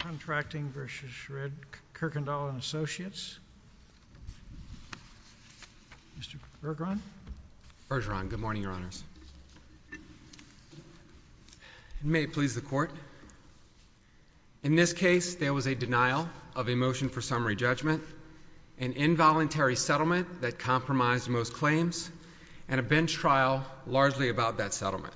Contracting, Incorporated v. Red Kirkendall & Associates Mr. Bergeron Bergeron, good morning your honors May it please the court in this case there was a denial of a motion for summary judgment an involuntary settlement that compromised most claims and a bench trial largely about that settlement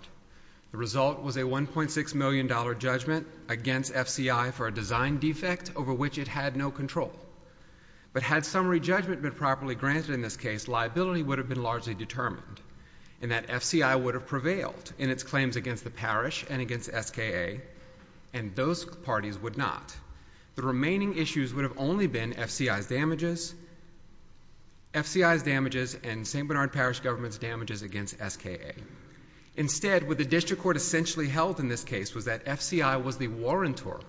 the result was a 1.6 million dollar judgment against FCI for a design defect over which it had no control but had summary judgment been properly granted in this case liability would have been largely determined and that FCI would have prevailed in its claims against the parish and against SKA and those parties would not the remaining issues would have only been FCI's damages FCI's damages and St. Bernard Parish government's damages against SKA instead what the district court essentially held in this case was that FCI was the warrantor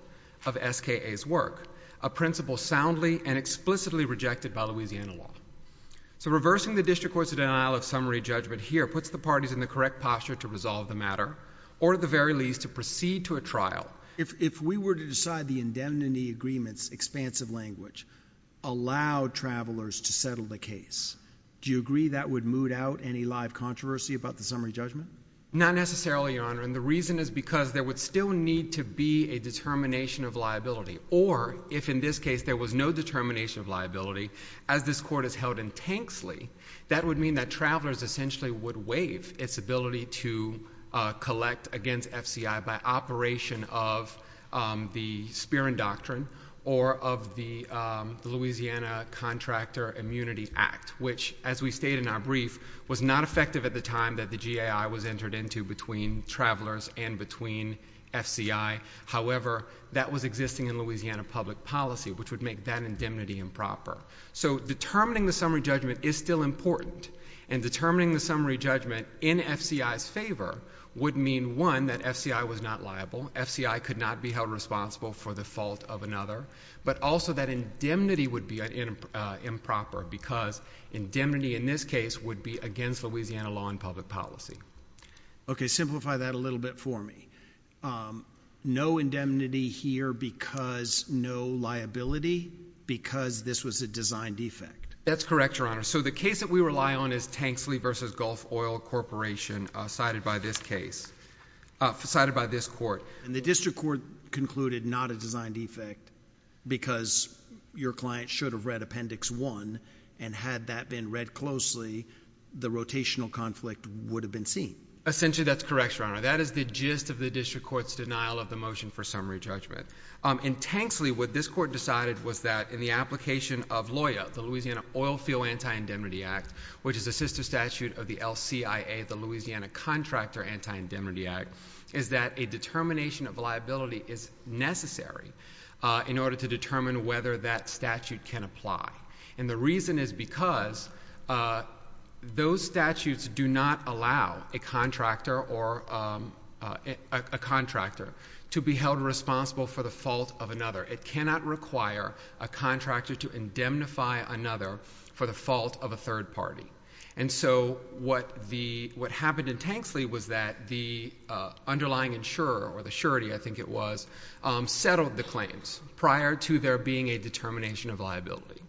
of SKA's work a principle soundly and explicitly rejected by Louisiana law so reversing the district court's denial of summary judgment here puts the parties in the correct posture to resolve the matter or at the very least to proceed to a trial if we were to decide the indemnity agreements expansive language allowed travelers to settle the case do you agree that would moot out any live controversy about the summary judgment not necessarily your honor and the reason is because there would still need to be a determination of liability or if in this case there was no determination of liability as this court has held intensely that would mean that travelers essentially would waive its ability to uh... collect against FCI by operation of uh... the spear and doctrine or of the uh... louisiana contractor immunity act which as we state in our brief was not effective at the time that the GAI was entered into between travelers and between FCI however that was existing in louisiana public policy which would make that indemnity improper so determining the summary judgment is still important and determining the summary judgment in FCI's favor would mean one that FCI was not liable FCI could not be held responsible for the fault of another but also that indemnity would be improper because indemnity in this case would be against louisiana law and public policy okay simplify that a little bit for me no indemnity here because no liability because this was a design defect that's correct your honor so the case that we rely on is tanksley versus gulf oil corporation cited by this case uh... cited by this court and the district court concluded not a design defect because your client should have read appendix one and had that been read closely the rotational conflict would have been seen essentially that's correct your honor that is the gist of the district court's denial of the motion for summary judgment uh... in tanksley what this court decided was that in the application of LOIA the louisiana oil field anti-indemnity act which is a sister statute of the LCIA the louisiana contractor anti-indemnity act is that a determination of liability is necessary uh... in order to determine whether that statute can apply and the reason is because those statutes do not allow a contractor or uh... uh... a contractor to be held responsible for the fault of another it cannot require a contractor to indemnify another for the fault of a third party and so what the what happened in tanksley was that the uh... underlying insurer or the surety i think it was uh... settled the claims prior to there being a determination of liability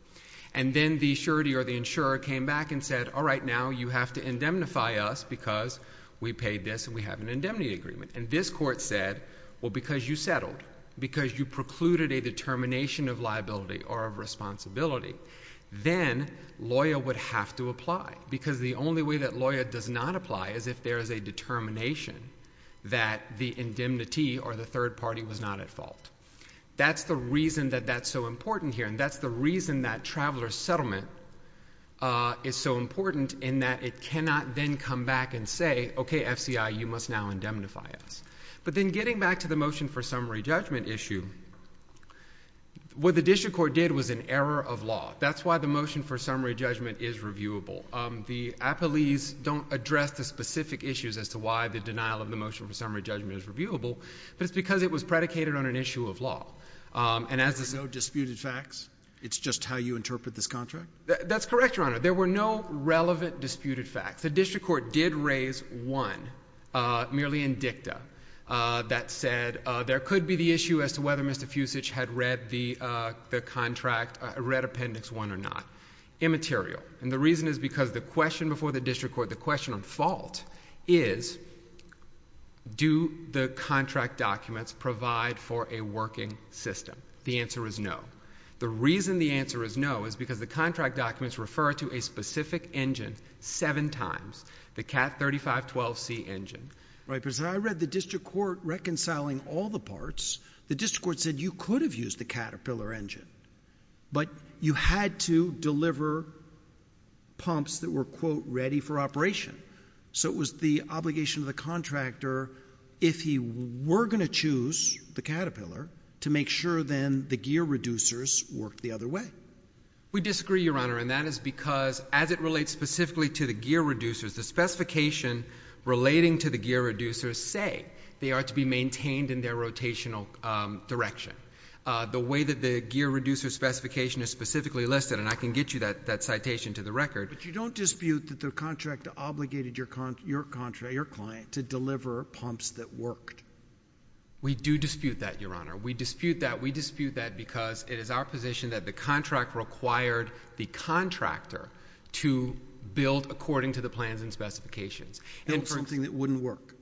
and then the surety or the insurer came back and said all right now you have to indemnify us because we paid this and we have an indemnity agreement and this court said well because you settled because you precluded a determination of liability or of responsibility then lawyer would have to apply because the only way that lawyer does not apply is if there is a determination that the indemnity or the third party was not at fault that's the reason that that's so important here and that's the reason that traveler settlement uh... is so important in that it cannot then come back and say ok fci you must now indemnify us but then getting back to the motion for summary judgment issue what the district court did was an error of law that's why the motion for summary judgment is reviewable uh... the appellees don't address the specific issues as to why the denial of the motion for summary judgment is reviewable but it's because it was predicated on an issue of law uh... and as there's no disputed facts it's just how you interpret this contract that's correct your honor there were no relevant disputed facts the district court did raise one uh... merely in dicta uh... that said uh... there could be the issue as to whether mister fusich had read the uh... the contract uh... read appendix one or not immaterial and the reason is because the question before the district court the question on fault is do the contract documents provide for a working system the answer is no the reason the answer is no is because the contract documents refer to a specific engine seven times the cat thirty five twelve c engine right because i read the district court reconciling all the parts the district court said you could have used the caterpillar engine you had to deliver pumps that were quote ready for operation so it was the obligation of the contractor if he were going to choose the caterpillar to make sure then the gear reducers worked the other way we disagree your honor and that is because as it relates specifically to the gear reducers the specification relating to the gear reducers say they are to be maintained in their rotational uh... direction uh... the way that the gear reducers specification is specifically listed and i can get you that that citation to the record but you don't dispute that the contract obligated your contract your client to deliver pumps that worked we do dispute that your honor we dispute that we dispute that because it is our position that the contract required the contractor to build according to the plans and specifications and something that wouldn't work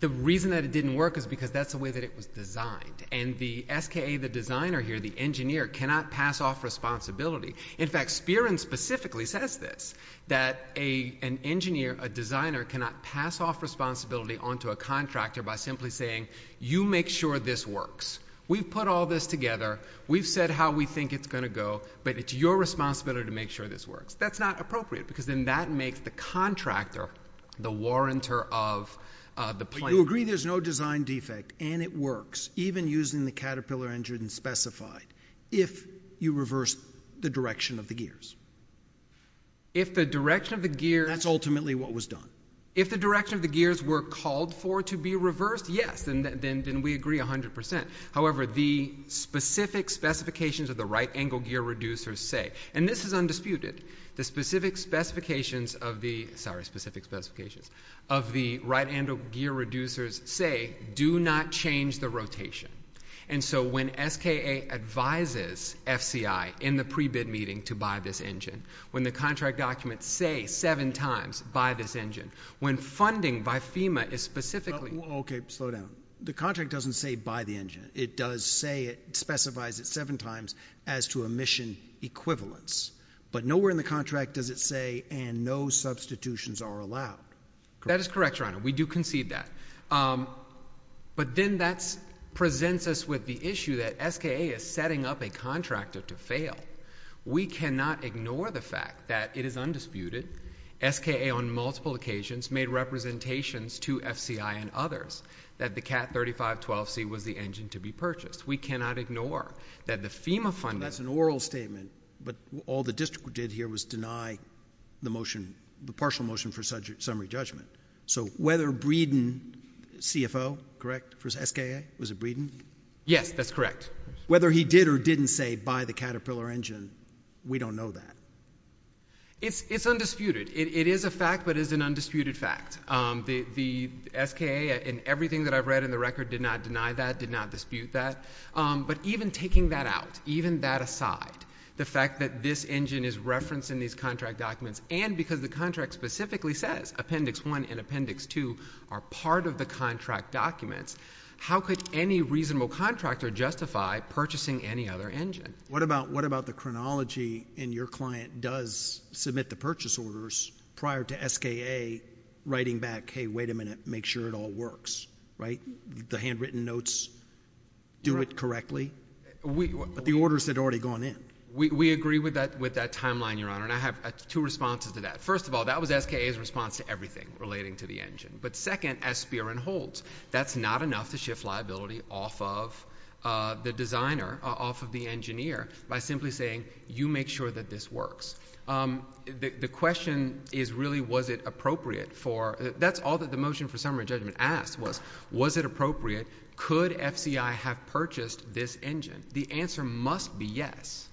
the reason that it didn't work is because that's the way that it was designed and the SKA the designer here the engineer cannot pass off responsibility in fact Spearman specifically says this that a an engineer a designer cannot pass off responsibility onto a contractor by simply saying you make sure this works we've put all this together we've said how we think it's going to go but it's your responsibility to make sure this works that's not appropriate because then that makes the contractor the warrantor of uh... the plane you agree there's no design defect and it works even using the caterpillar engine specified if you reverse the direction of the gears if the direction of the gears that's ultimately what was done if the direction of the gears were called for to be reversed yes and then then we agree a hundred percent however the specific specifications of the right angle gear reducers say and this is undisputed the specific specifications of the sorry specific specifications of the right angle gear reducers say do not change the rotation and so when SKA advises FCI in the pre-bid meeting to buy this engine when the contract documents say seven times buy this engine when funding by FEMA is specifically okay slow down the contract doesn't say buy the engine it does say it specifies it seven times as to emission equivalence but nowhere in the contract does it say and no substitutions are allowed that is correct your honor we do concede that but then that's presents us with the issue that SKA is setting up a contractor to fail we cannot ignore the fact that it is undisputed SKA on multiple occasions made representations to FCI and others that the cat thirty five twelve C was the engine to be purchased we cannot ignore that the FEMA funding that's an oral statement but all the district did here was deny the motion the partial motion for summary judgment so whether Breeden CFO correct for SKA was it Breeden yes that's correct whether he did or didn't say buy the Caterpillar engine we don't know that it's it's undisputed it it is a fact that is an undisputed fact uh... the the SKA and everything that I've read in the record did not deny that did not dispute that uh... but even taking that out even that aside the fact that this engine is referenced in these contract documents and because the contract specifically says appendix one and appendix two are part of the contract documents how could any reasonable contractor justify purchasing any other engine what about what about the chronology and your client does submit the purchase orders prior to SKA writing back hey wait a minute make sure it all works the handwritten notes do it correctly but the orders had already gone in we we agree with that with that timeline your honor and I have two responses to that first of all that was SKA's response to everything relating to the engine but second as spear and holds that's not enough to shift liability off of uh... the designer off of the engineer by simply saying you make sure that this works the question is really was it appropriate for that's all that the motion for summary judgment asked was was it appropriate could FCI have purchased this engine the answer must be yes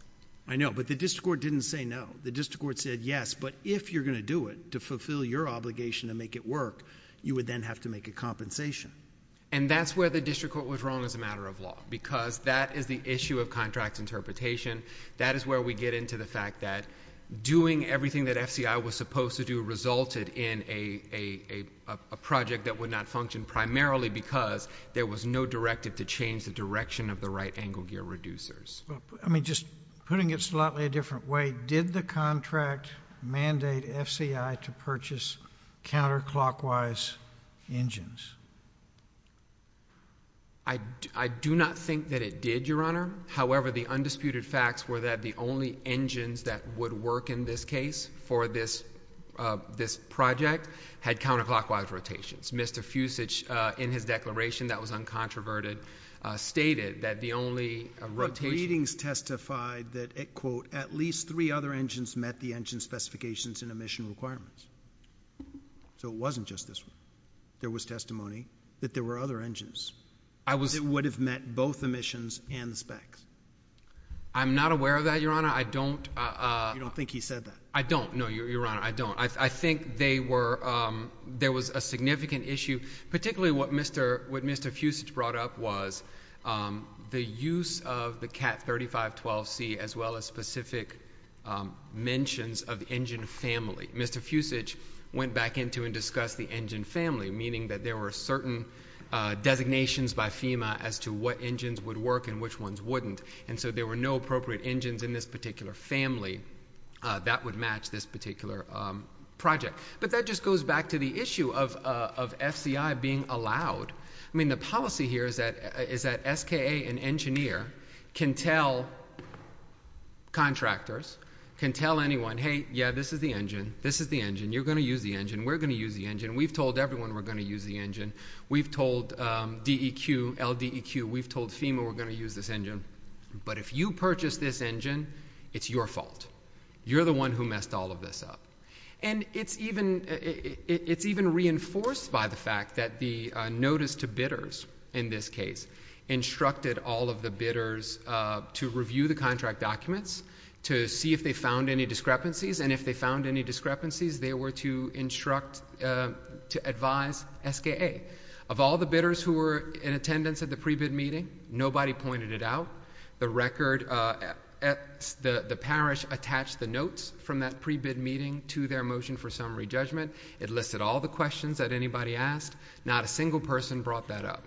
I know but the district court didn't say no the district court said yes but if you're gonna do it to fulfill your obligation to make it work you would then have to make a compensation and that's where the district court was wrong as a matter of law because that is the issue of contract interpretation that is where we get into the fact that doing everything that FCI was supposed to do resulted in a a project that would not function primarily because there was no directive to change the direction of the right angle gear reducers putting it slightly different way did the contract mandate FCI to purchase counterclockwise engines I do not think that it did your honor however the undisputed facts were that the only engines that would work in this case for this uh... this project had counterclockwise rotations Mr. Fusich in his declaration that was uncontroverted stated that the only rotation readings testified that it quote at least three other engines met the engine specifications and emission requirements so it wasn't just this there was testimony that there were other engines I was it would have met both emissions and specs I'm not aware of that your honor I don't uh... I don't think he said that I don't know your honor I don't I think they were uh... there was a significant issue particularly what Mr. Fusich brought up was the use of the cat thirty five twelve c as well as specific mentions of the engine family Mr. Fusich went back into and discussed the engine family meaning that there were certain uh... designations by FEMA as to what engines would work and which ones wouldn't and so there were no appropriate engines in this particular family uh... that would match this particular uh... but that just goes back to the issue of uh... of FCI being allowed I mean the policy here is that is that SKA an engineer can tell contractors can tell anyone hey yeah this is the engine this is the engine you're gonna use the engine we're gonna use the engine we've told everyone we're gonna use the engine we've told uh... DEQ LDEQ we've told FEMA we're gonna use this engine but if you purchase this engine it's your fault you're the one who messed all of this up and it's even it's even reinforced by the fact that the notice to bidders in this case instructed all of the bidders uh... to review the contract documents to see if they found any discrepancies and if they found any discrepancies they were to instruct uh... to advise SKA of all the bidders who were in attendance at the pre-bid meeting nobody pointed it out the record uh... the parish attached the notes from that pre-bid meeting to their motion for summary judgment it listed all the questions that anybody asked not a single person brought that up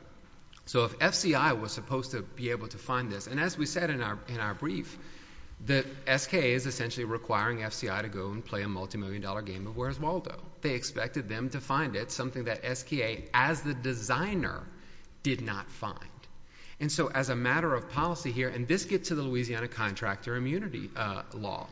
so if FCI was supposed to be able to find this and as we said in our brief that SKA is essentially requiring FCI to go and play a multi-million dollar game of Where's Waldo they expected them to find it something that SKA as the designer did not find and so as a matter of policy here and this gets to the Louisiana contractor immunity uh... law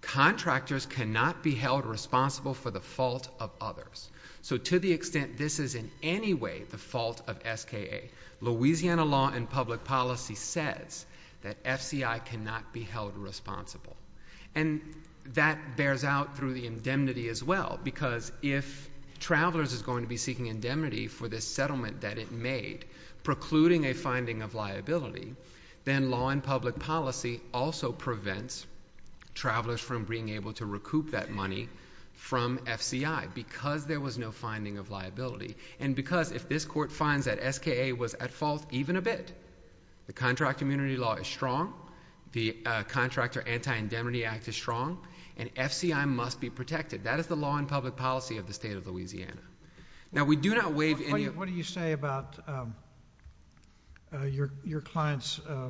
contractors cannot be held responsible for the fault of others so to the extent this is in any way the fault of SKA Louisiana law and public policy says that FCI cannot be held responsible that bears out through the indemnity as well because if travelers is going to be seeking indemnity for this settlement that it made precluding a finding of liability then law and public policy also prevents travelers from being able to recoup that money from FCI because there was no finding of liability and because if this court finds that SKA was at fault even a bit the contract immunity law is strong the uh... contractor anti-indemnity act is strong and FCI must be protected that is the law and public policy of the state of Louisiana now we do not waive any... what do you say about uh... your your clients uh...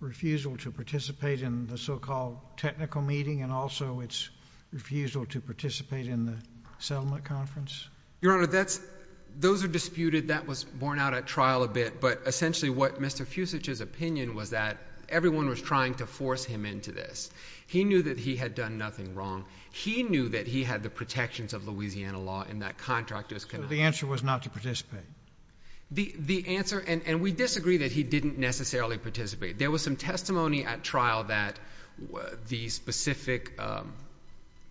refusal to participate in the so-called technical meeting and also it's refusal to participate in the settlement conference your honor that's those are disputed that was borne out at trial a bit but essentially what Mr. Fusich's opinion was that everyone was trying to force him into this he knew that he had done nothing wrong he knew that he had the protections of Louisiana law and that contract was cannot... so the answer was not to participate the the answer and and we disagree that he didn't necessarily participate there was some testimony at trial that the specific uh...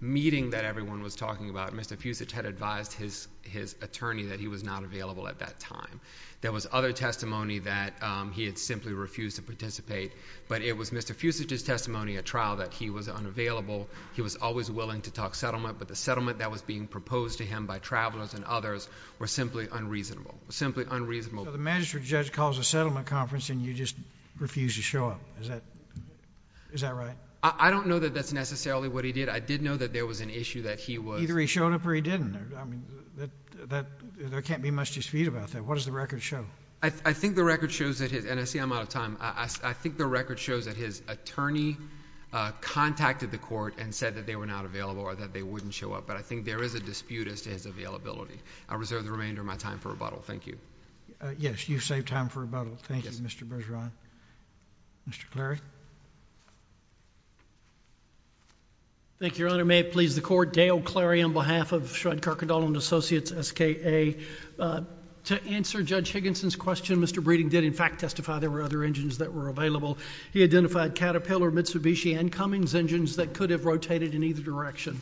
meeting that everyone was talking about Mr. Fusich had advised his his attorney that he was not available at that time there was other testimony that uh... he had simply refused to participate but it was Mr. Fusich's testimony at trial that he was unavailable he was always willing to talk settlement but the settlement that was being proposed to him by travelers and others were simply unreasonable simply unreasonable the magistrate judge calls a settlement conference and you just refused to show up is that right I don't know that that's necessarily what he did I did know that there was an issue that he was either he showed up or he didn't there can't be much dispute about that what does the record show I think the record shows that his and I see I'm out of time I think the record shows that his attorney uh... contacted the court and said that they were not available or that they wouldn't show up but I think there is a dispute as to his availability I reserve the remainder of my time for rebuttal thank you uh... yes you saved time for rebuttal thank you Mr. Bergeron Mr. Clary thank you your honor may it please the court Dale Clary on behalf of Shredd Kirkendall and Associates SKA to answer Judge Higginson's question Mr. Breeding did in fact testify there were other engines that were available he identified Caterpillar Mitsubishi and Cummings engines that could have rotated in either direction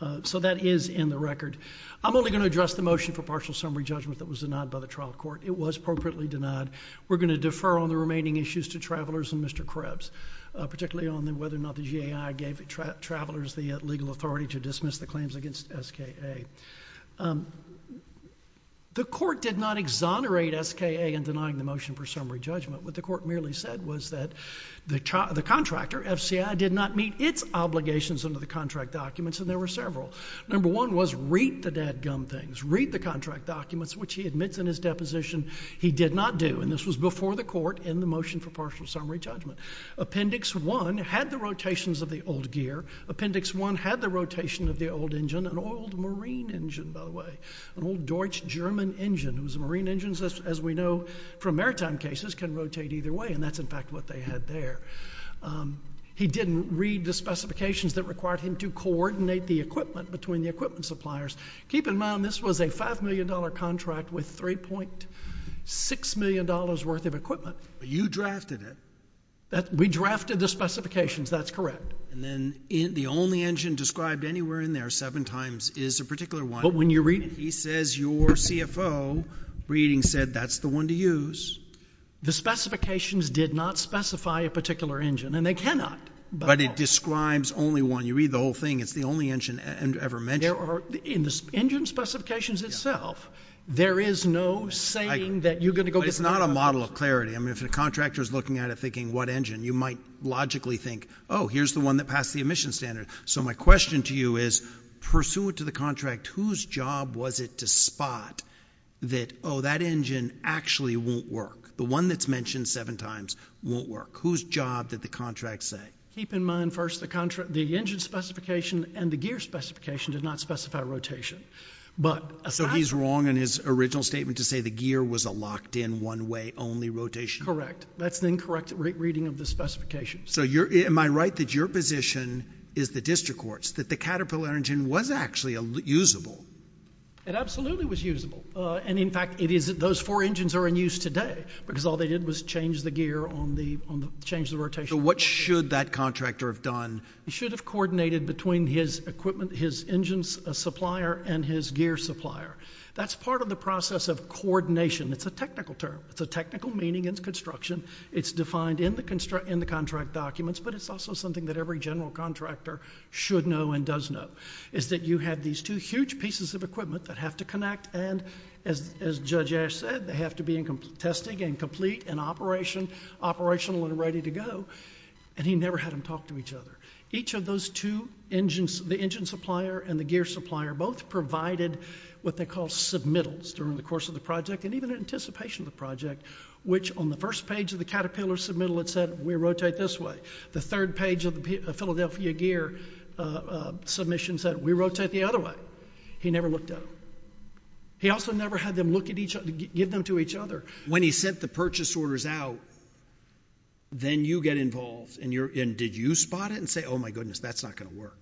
uh... so that is in the record I'm only going to address the motion for partial summary judgment that was denied by the trial court it was appropriately denied we're going to defer on the remaining issues to travelers and Mr. Krebs uh... particularly on whether or not the GAI gave travelers the legal authority to dismiss the claims against SKA the court did not exonerate SKA in denying the motion for summary judgment what the court merely said was that the contractor FCAI did not meet its obligations under the contract documents and there were several number one was read the dad gum things read the contract documents which he admits in his deposition he did not do and this was before the court in the motion for partial summary judgment appendix one had the rotations of the old gear appendix one had the rotation of the old engine an old marine engine by the way an old Deutsch German engine it was a marine engine as we know from maritime cases can rotate either way and that's in fact what they had there he didn't read the specifications that required him to coordinate the equipment between the equipment suppliers keep in mind this was a five million dollar contract with three point six million dollars worth of equipment you drafted it that we drafted the specifications that's correct and then the only engine described anywhere in there seven times is a particular one but when you read it he says your CFO reading said that's the one to use the specifications did not specify a particular engine and they cannot but it describes only one you read the whole thing it's the only engine ever mentioned in the engine specifications itself there is no saying that you're going to go it's not a model of clarity and if a contractor is looking at it thinking what engine you might logically think oh here's the one that passed the emission standard so my question to you is pursuant to the contract whose job was it to spot that oh that engine actually won't work the one that's mentioned seven times won't work whose job did the contract say keep in mind first the contract the engine specification and the gear specification did not specify rotation but so he's wrong in his original statement to say the gear was a locked in one way only rotation correct that's incorrect reading of the specifications so you're am I right that your position is the district courts that the Caterpillar engine was actually a usable it absolutely was usable and in fact it is it those four engines are in use today because all they did was change the gear on the on the change the rotation what should that contractor have done should have coordinated between his equipment his engines a supplier and his gear supplier that's part of the process of coordination it's a technical term the technical meaning is construction it's defined in the construct in the contract documents but it's also something that every general contractor should know and does know is that you have these two huge pieces of equipment that have to connect and as as Judge Ash said they have to be in complete testing and complete and operation operational and ready to go and he never had to talk to each other each of those two engines the engine supplier and the gear supplier both provided what they call submittals during the course of the project and even in anticipation of the project which on the first page of the Caterpillar submittal it said we rotate this way the third page of the Philadelphia gear submission said we rotate the other way he never looked at him he also never had them look at each other give them to each other when he sent the purchase orders out then you get involved and you're in did you spot it and say oh my goodness that's not gonna work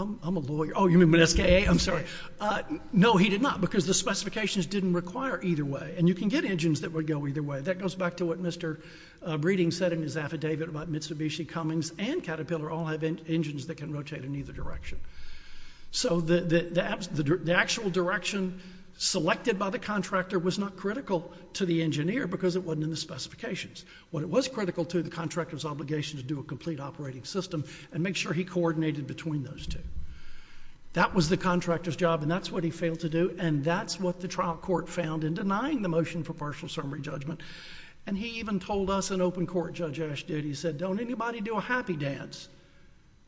I'm a lawyer oh you mean my SKA I'm sorry no he did not because the specifications didn't require either way and you can get engines that would go either way that goes back to what Mr. Breeding said in his affidavit about Mitsubishi Cummings and Caterpillar all have engines that can rotate in either direction so the actual direction selected by the contractor was not critical to the engineer because it wasn't in the specifications what was critical to the contractors obligation to do a complete operating system and make sure he coordinated between those two that was the contractors job and that's what he failed to do and that's what the trial court found in denying the motion for partial summary judgment and he even told us in open court Judge Asch did he said don't anybody do a happy dance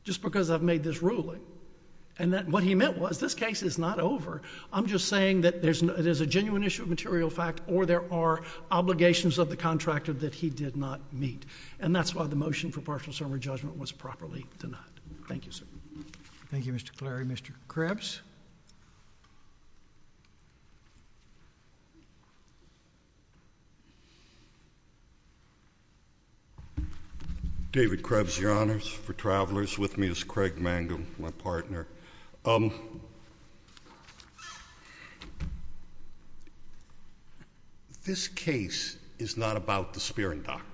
just because I've made this ruling and that what he meant was this case is not over I'm just saying that there's no it is a genuine issue of material fact or there are obligations of the contractor that he did not meet and that's why the motion for partial summary judgment was properly denied thank you sir thank you Mr. Clary Mr. Krebs David Krebs your honors for travelers with me is Craig Mangum my partner um this case is not about the Spear and Doctrine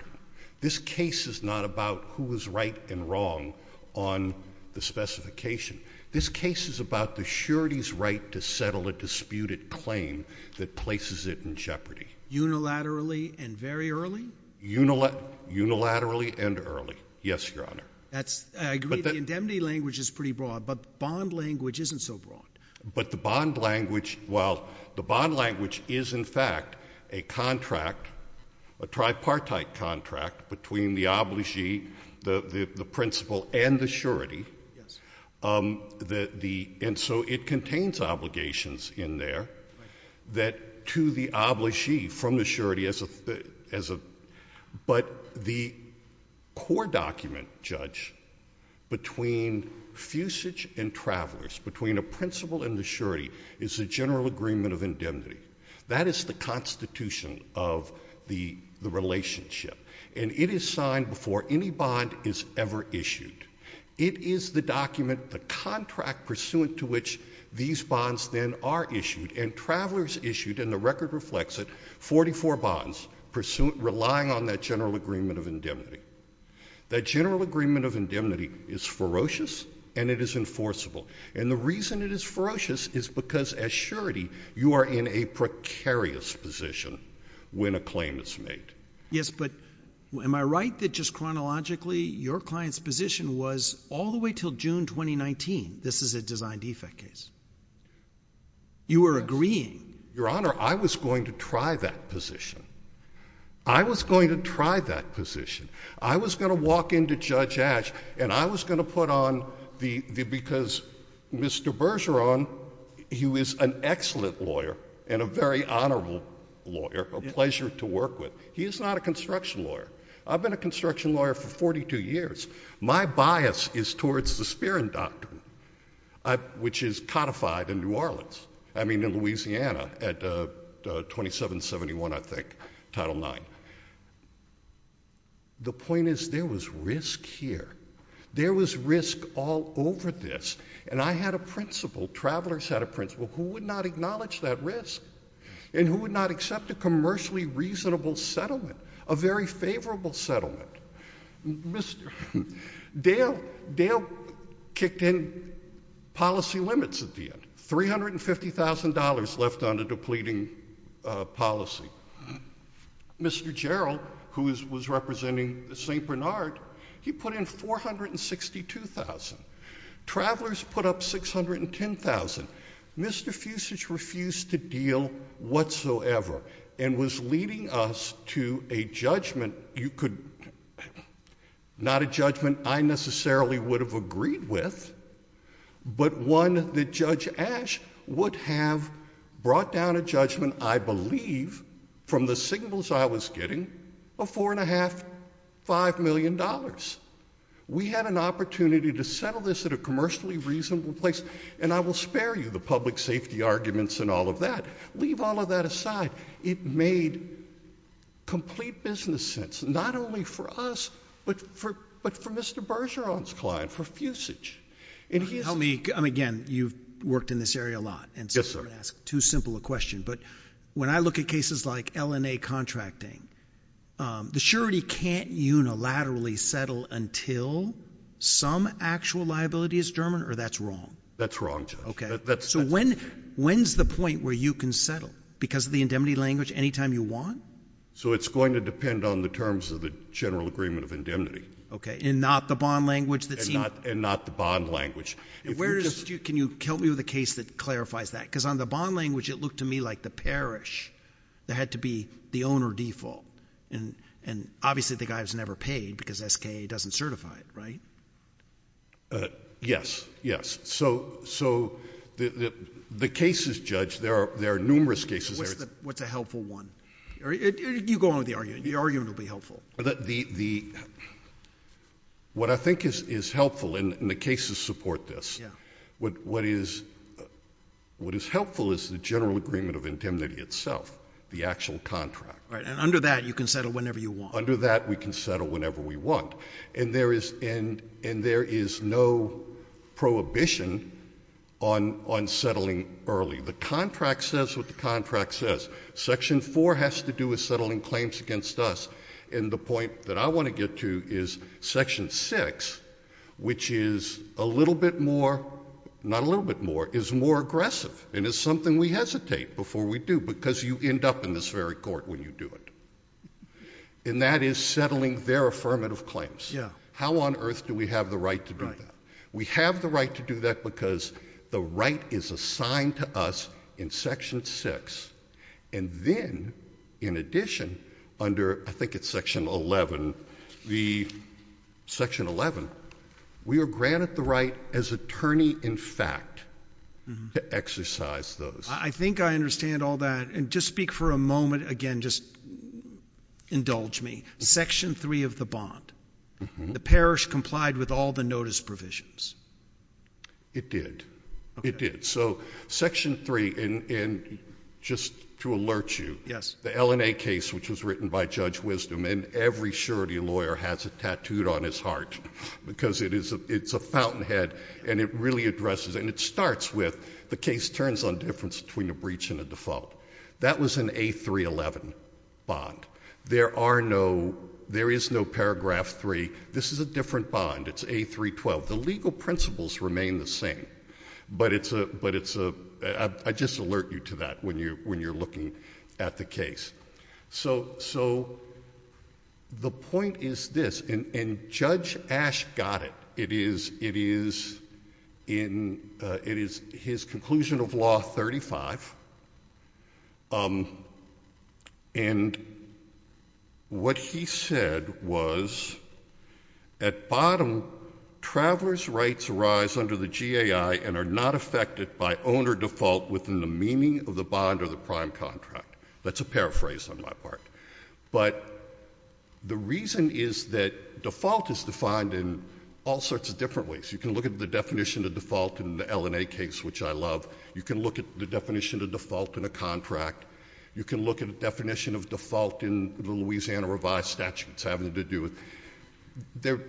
this case is not about who was right and wrong on the specification this case is about the surety's right to settle a disputed claim that places it in jeopardy unilaterally and very early unilateral unilaterally and early yes your honor that's I agree the indemnity language is pretty broad but bond language isn't so broad but the bond language well the bond language is in fact a contract a tripartite contract between the obligee the the principal and the surety and so it contains obligations in there that to the obligee from the surety but the core document judge between fusage and travelers between a principal and the surety is a general agreement of indemnity that is the constitution of the the relationship and it is signed before any bond is ever issued it is the document the contract pursuant to which these bonds then are issued and travelers issued in the record reflects it 44 bonds pursuant relying on that general agreement of indemnity the general agreement of indemnity is ferocious and it is enforceable and the reason it is ferocious is because as surety you are in a precarious position when a claim is made yes but when my right that just chronologically your client's position was all the way till June 2019 this is a design defect case you were agreeing your honor I was going to try that position I was going to try that position I was gonna walk into judge ash and I was gonna put on the because Mr. Bergeron he was an excellent lawyer and a very honorable lawyer a pleasure to work with he is not a construction lawyer I've been a construction lawyer for 42 years my bias is towards the Spear and Doctrine I which is codified in New Orleans I mean in Louisiana at the 2771 I think title 9 the point is there was risk here there was risk all over this and I had a principal travelers had a principal who would not acknowledge that risk and who would not accept a commercially reasonable settlement a very favorable settlement Mr. Dale kicked in policy limits at the end $350,000 left on the depleting policy Mr. Jarrell who was representing the St. Bernard he put in 462,000 travelers put up 610,000 Mr. Fusage refused to deal whatsoever and was leading us to a judgment you could not a judgment I necessarily would have agreed with but one that judge ash would have brought down a judgment I believe from the signals I was getting a four and a half five million dollars we had an opportunity to settle this at a commercially reasonable place and I will spare you the public safety arguments and all of that leave all of that aside it made complete business sense not only for us but for but for Mr. Bergeron's client for Fusage help me again you've worked in this area a lot yes sir too simple a question but when I look at cases like LNA contracting the surety can't unilaterally settle until some actual liability is German or that's wrong that's wrong okay that's so when when's the point where you can settle because the indemnity language anytime you want so it's going to depend on the terms of the general agreement of indemnity okay and not the bond language that's not and not the bond language where is you can you tell me the case that clarifies that because on the bond language it looked to me like the parish that had to be the owner default and and obviously the guy was never paid because SKA doesn't certify it right yes yes so so the the cases judge there are there are numerous cases what's a helpful one you go on with the argument the argument will be helpful the the what I think is is helpful in the cases support this what what is what is helpful is the general agreement of indemnity itself the actual contract right and under that you can settle whenever you want under that we can settle whenever we want and there is and and there is no prohibition on unsettling early the contract says what the contract says section 4 has to do with settling claims against us in the point that I want to get to is section 6 which is a little bit more not a little bit more is more aggressive and it's something we hesitate before we do because you end up in this very court when you do it and that is settling their affirmative claims yeah how on earth do we have the right to do that we have the right to do that because the right is assigned to us in section 6 and then in addition under I think it's section 11 the section 11 we are granted the right as attorney in fact to exercise those I think I understand all that and just speak for a moment again just indulge me section 3 of the bond the parish complied with all the notice provisions it did it did so section 3 in in just to alert you yes the LNA case which was written by Judge Wisdom and every surety lawyer has it tattooed on his heart because it is a it's a fountainhead and it really addresses and it starts with the case turns on difference between a breach and a default that was in a 311 bond there are no there is no paragraph 3 this is a different bond it's a 312 the legal principles remain the same but it's a but it's a I just alert you to that when you when you're looking at the case so so the point is this in in judge ash got it it is it is in it is his conclusion of law 35 on and what he said was at bottom travelers rights rise under the GAI and are not affected by owner default within the meaning the bond or the prime contract that's a paraphrase on my part but the reason is that default is defined in all sorts of different ways you can look at the definition to default in the LNA case which I love you can look at the definition to default in a contract you can look at definition of default in the Louisiana Revised Statutes having to do with their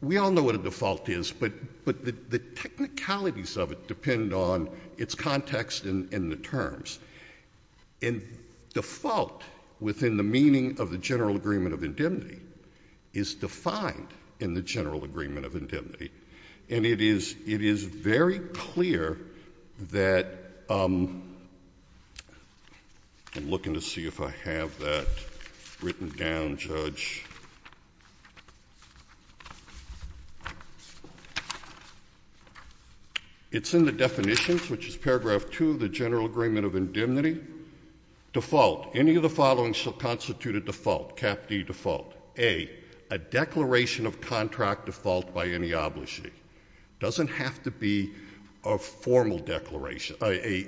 we all know what a default is but but the technicalities of it depend on its context in in the terms in default within the meaning of the General Agreement of Indemnity is defined in the General Agreement of Indemnity and it is it is very clear that I'm looking to see if I have that written down judge it's in the definitions which is paragraph to the General Agreement of Indemnity default any of the following shall constitute a default cap the default a a declaration of contract default by any obligation doesn't have to be a formal declaration by a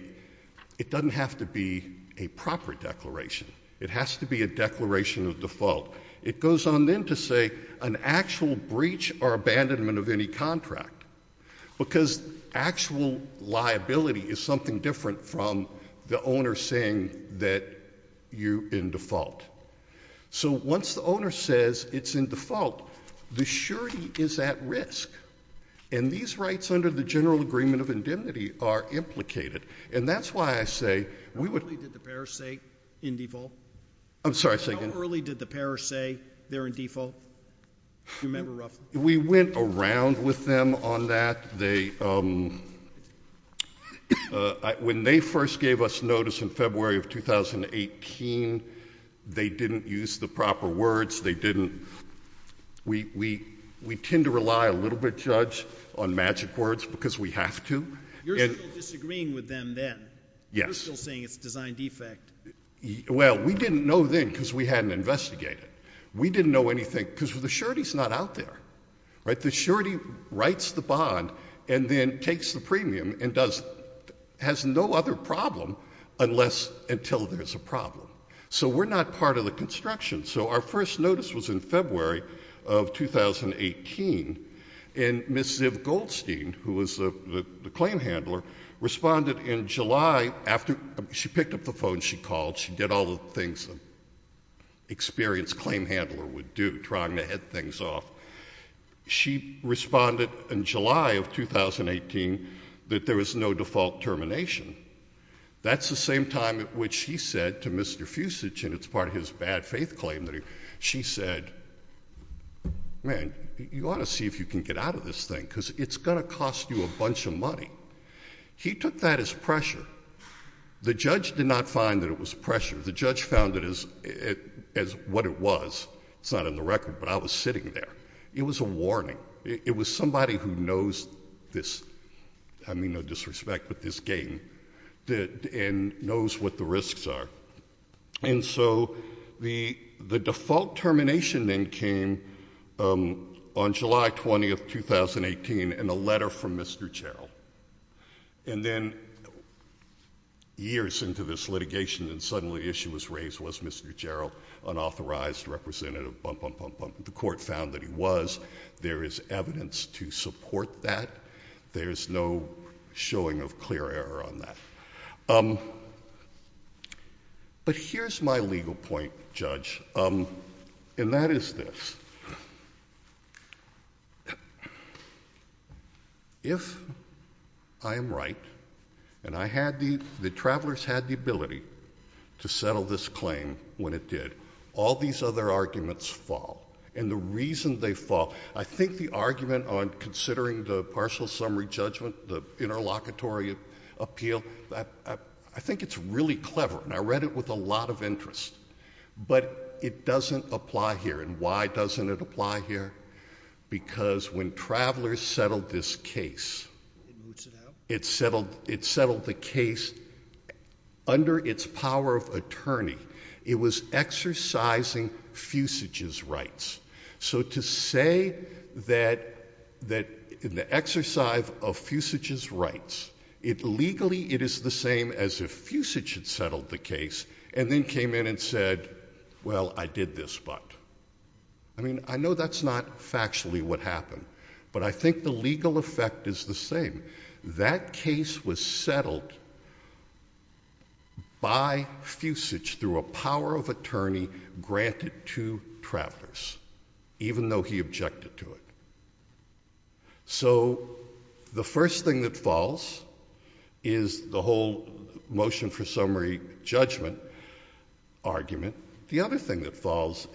it doesn't have to be a proper declaration it has to be a declaration of default it goes on then to say an actual breach or abandonment of any contract because actual liability is something different from the owner saying that you in default so once the owner says it's in default the surety is at risk and these rights under the General Agreement of Indemnity are implicated and that's why I say we would did the parish say in default? I'm sorry say again how early did the parish say they're in default? we went around with them on that they when they first gave us notice in February of 2018 they didn't use the proper words they didn't we we we tend to rely a little bit judge on magic words because we have to. You're still disagreeing with them then? Yes. You're still saying it's a design defect? Well we didn't know then because we hadn't investigated we didn't know anything because the surety's not out there right the surety writes the bond and then takes the premium and does has no other problem unless until there's a problem so we're not part of the construction so our first notice was in February of 2018 and Miss Ziv Goldstein who was the claim handler responded in July after she picked up the phone she called she did all the things experienced claim handler would do trying to head things off. She responded in July of 2018 that there is no default termination that's the same time which he said to Mr. Fusich and it's part of his bad faith claim that she said man you ought to see if you can get out of this thing because it's gonna cost you a bunch of money he took that as pressure the judge did not find that it was pressure the judge found it as as what it was it's not in the record but I was sitting there it was a warning it was somebody who knows this I mean no disrespect but this game did and knows what the risks are and so the the default termination then came on July 20th 2018 in a letter from Mr. Cherrill and then years into this litigation and suddenly the issue was Mr. Cherrill unauthorized representative the court found that he was there is evidence to support that there's no showing of clear error on that but here's my legal point judge and that is this if I am right and I had the travelers had the ability to settle this claim when it did all these other arguments fall and the reason they fought I think the argument on considering the partial summary judgment interlocutory appeal that I think it's really clever I read it with a lot of interest but it doesn't apply here and why doesn't it apply here because when travelers settled this case it settled it settled the case under its power of attorney it was exercising fusages rights so to say that that in the exercise of fusages rights it legally it is the same as if fusage had settled the case and then came in and said well I did this but I mean I know that's not factually what happened but I think the legal effect is the same that case was settled by fusage through a power of attorney granted to travelers even though he objected to it so the first thing that falls is the whole motion for summary judgment argument the other thing that falls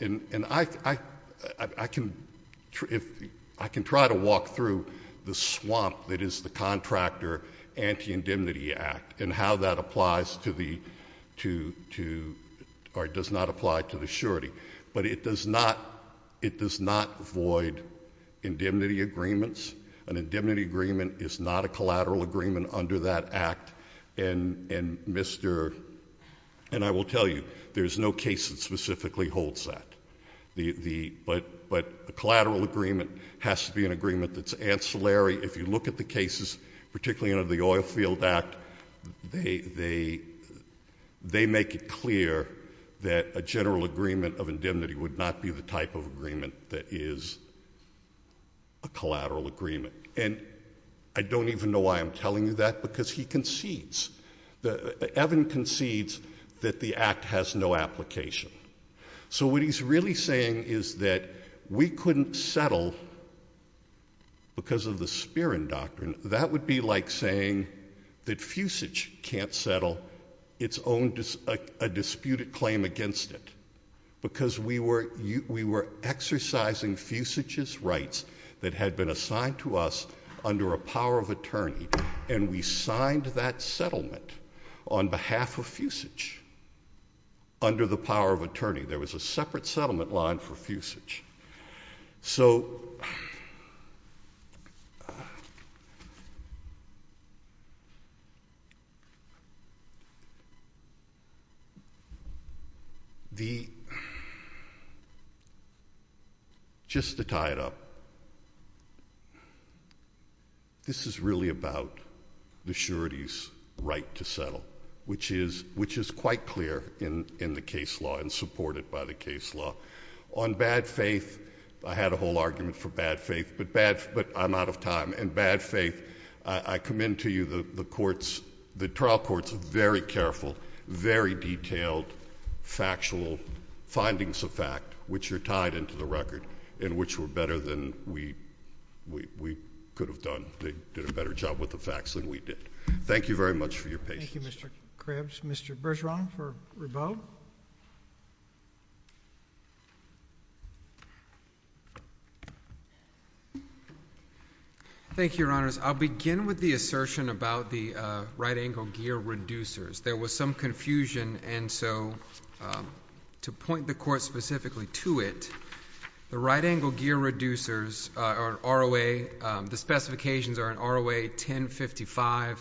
I can try to walk through the swamp that is the contractor anti-indemnity act and how that applies to the or does not apply to the surety but it does not it does not void indemnity agreements an indemnity agreement is not a collateral agreement under that act and I will tell you there's no case that specifically holds that but a collateral agreement has to be an agreement that's ancillary if you look at the cases particularly under the oil field act they make it clear that a general agreement of indemnity would not be the type of agreement that is a collateral agreement and I don't even know why I'm telling you that because he concedes Evan concedes that the act has no application so what he's really saying is that we couldn't settle because of the spearing doctrine that would be like saying that fusage can't settle its own disputed claim against it because we were you we were exercising fusages rights that had been assigned to us under a power of attorney and we signed that settlement on behalf of fusage under the power of attorney there was a separate settlement line for fusage so just to tie it up this is really about the surety's right to settle which is which is quite clear in in the case law and supported by the case law on bad faith I had a whole argument for bad faith but bad but I'm out of time and bad faith I commend to you the the courts the trial courts very careful very detailed factual findings of fact which are tied into the record in which were better than we we we could have done they did a better job with the facts than we did thank you very much for your patience Mr. Krabs Mr. Bergeron for rebel thank your honors I'll begin with the assertion about the right angle gear reducers there was some confusion and so to point the court specifically to it the right angle gear reducers are ROA the specifications are an ROA 1055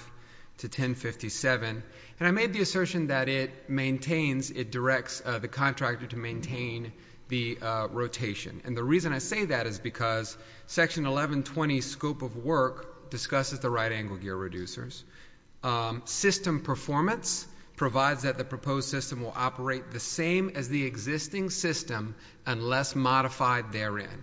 to 1057 and I made the assertion that it maintains it directs the contractor to maintain the rotation and the reason I say that is because section 1120 scope of work discusses the right angle gear reducers system performance provides that the proposed system will operate the same as the existing system unless modified therein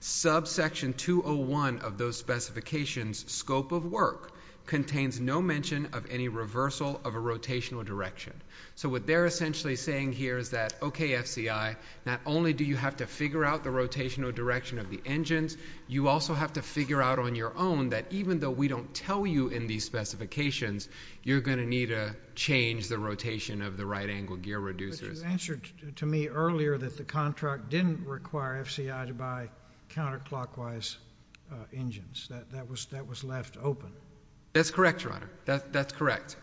subsection 201 of those specifications scope of work contains no mention of any reversal of a rotational direction so what they're essentially saying here is that okay FCI not only do you have to figure out the rotational direction of the engines you also have to figure out on your own that even though we don't tell you in these specifications you're gonna need a change the rotation of the right angle gear reducers you answered to me earlier that the contract didn't require FCI to buy counterclockwise engines that was that was left open that's correct your honor that that's correct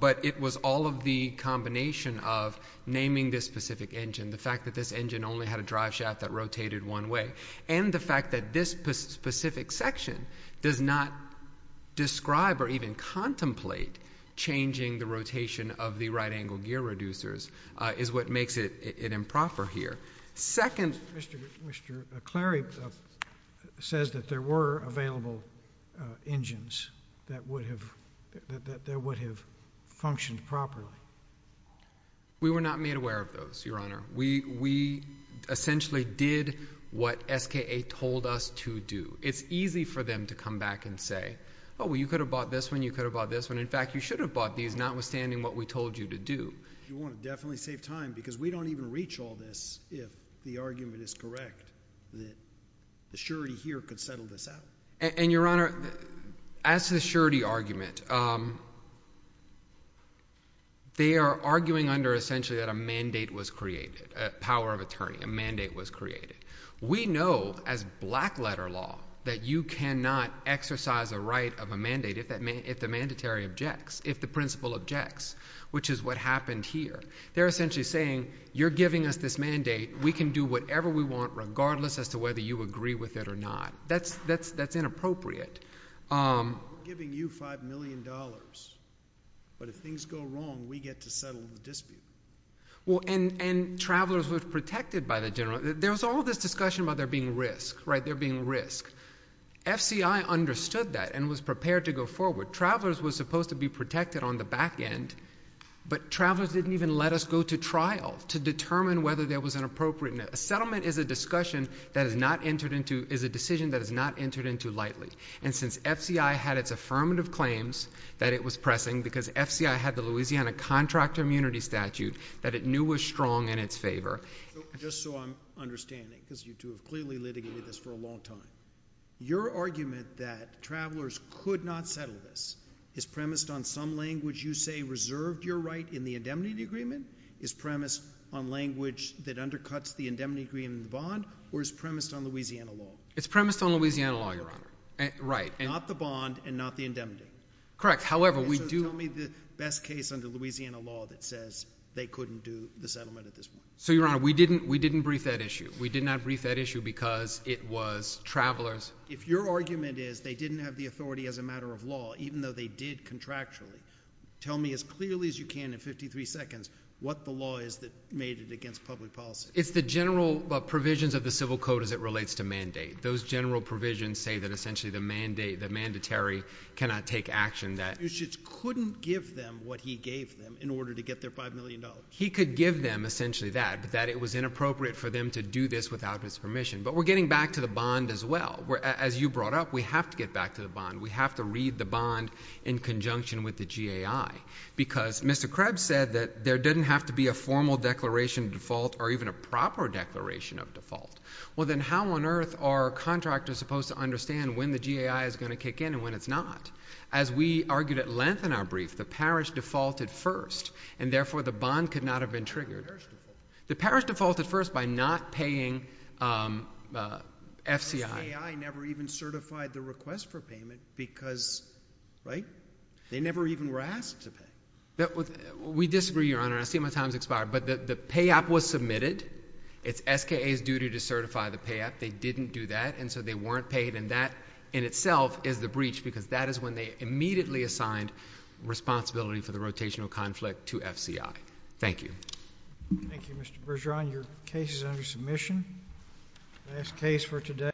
but it was all of the combination of naming this specific engine the fact that this engine only had a drive shaft that rotated one way and the fact that this specific section does not describe or even contemplate changing the rotation of the right angle gear reducers is what makes it improper here second Mr. Mr. Clary says that there were available engines that would have that there would have functioned properly we were not made aware of those your honor we we essentially did what SKA told us to do it's easy for them to come back and say oh well you could have bought this one you could have bought this one in fact you should have bought these not withstanding what we told you to do you want to definitely save time because we don't even reach all this if the argument is correct that the surety here could settle this out and your honor as the surety argument they are arguing under essentially that a mandate was created power of attorney a mandate was created we know as black letter law that you cannot exercise a right of a mandate if that if the mandatory objects if the principal objects which is what happened here they're essentially saying you're giving us this mandate we can do whatever we want regardless as to whether you agree with it or not that's that's that's inappropriate giving you five million dollars but if things go wrong we get to settle the dispute well and and travelers with protected by the general there's all this discussion about there being risk right there being risk FCI understood that and was prepared to go forward travelers was supposed to be protected on the back end but travelers didn't even let us go to trial to determine whether there was an appropriate settlement is a discussion that is not entered into is a decision that is not entered into lightly and since FCI had its affirmative claims that it was pressing because FCI had the Louisiana contractor immunity statute that it knew was strong in its favor just so I'm understanding because you two have clearly litigated this for a long time your argument that travelers could not settle this is premised on some language you say reserved your right in the indemnity agreement is premised on language that undercuts the indemnity agreement bond or is premised on Louisiana law it's premised on Louisiana law your honor right and not the bond and not the indemnity correct however we do tell me the best case under Louisiana law that says they couldn't do the settlement at this one so your honor we didn't we didn't brief that issue we did not brief that issue because it was travelers if your argument is they didn't have the authority as a matter of law even though they did contractually tell me as clearly as you can in 53 seconds what the law is that made it against public policy it's the general provisions of the civil code as it relates to mandate those general provisions say that essentially the mandate the mandatory cannot take action that you just couldn't give them what he gave them in order to get their five million dollars. He could give them essentially that but that it was inappropriate for them to do this without his permission but we're getting back to the bond as well where as you brought up we have to get back to the bond we have to read the bond in conjunction with the GAI because Mr. Krebs said that there didn't have to be a formal declaration default or even a proper declaration of default well then how on earth are contractors supposed to understand when the GAI is going to kick in and when it's not as we argued at length in our brief the parish defaulted first and therefore the bond could not have been triggered. The parish defaulted first by not paying FCI. The SKA never even certified the request for payment because right they never even were asked to pay. We disagree your honor I see my time has expired but the payout was submitted. It's SKA's duty to certify the payout they didn't do that and so they weren't paid and that in itself is the breach because that is when they immediately assigned responsibility for the rotational conflict to FCI. Thank you. Thank you Mr. Bergeron. Your case is under submission. Last case for today.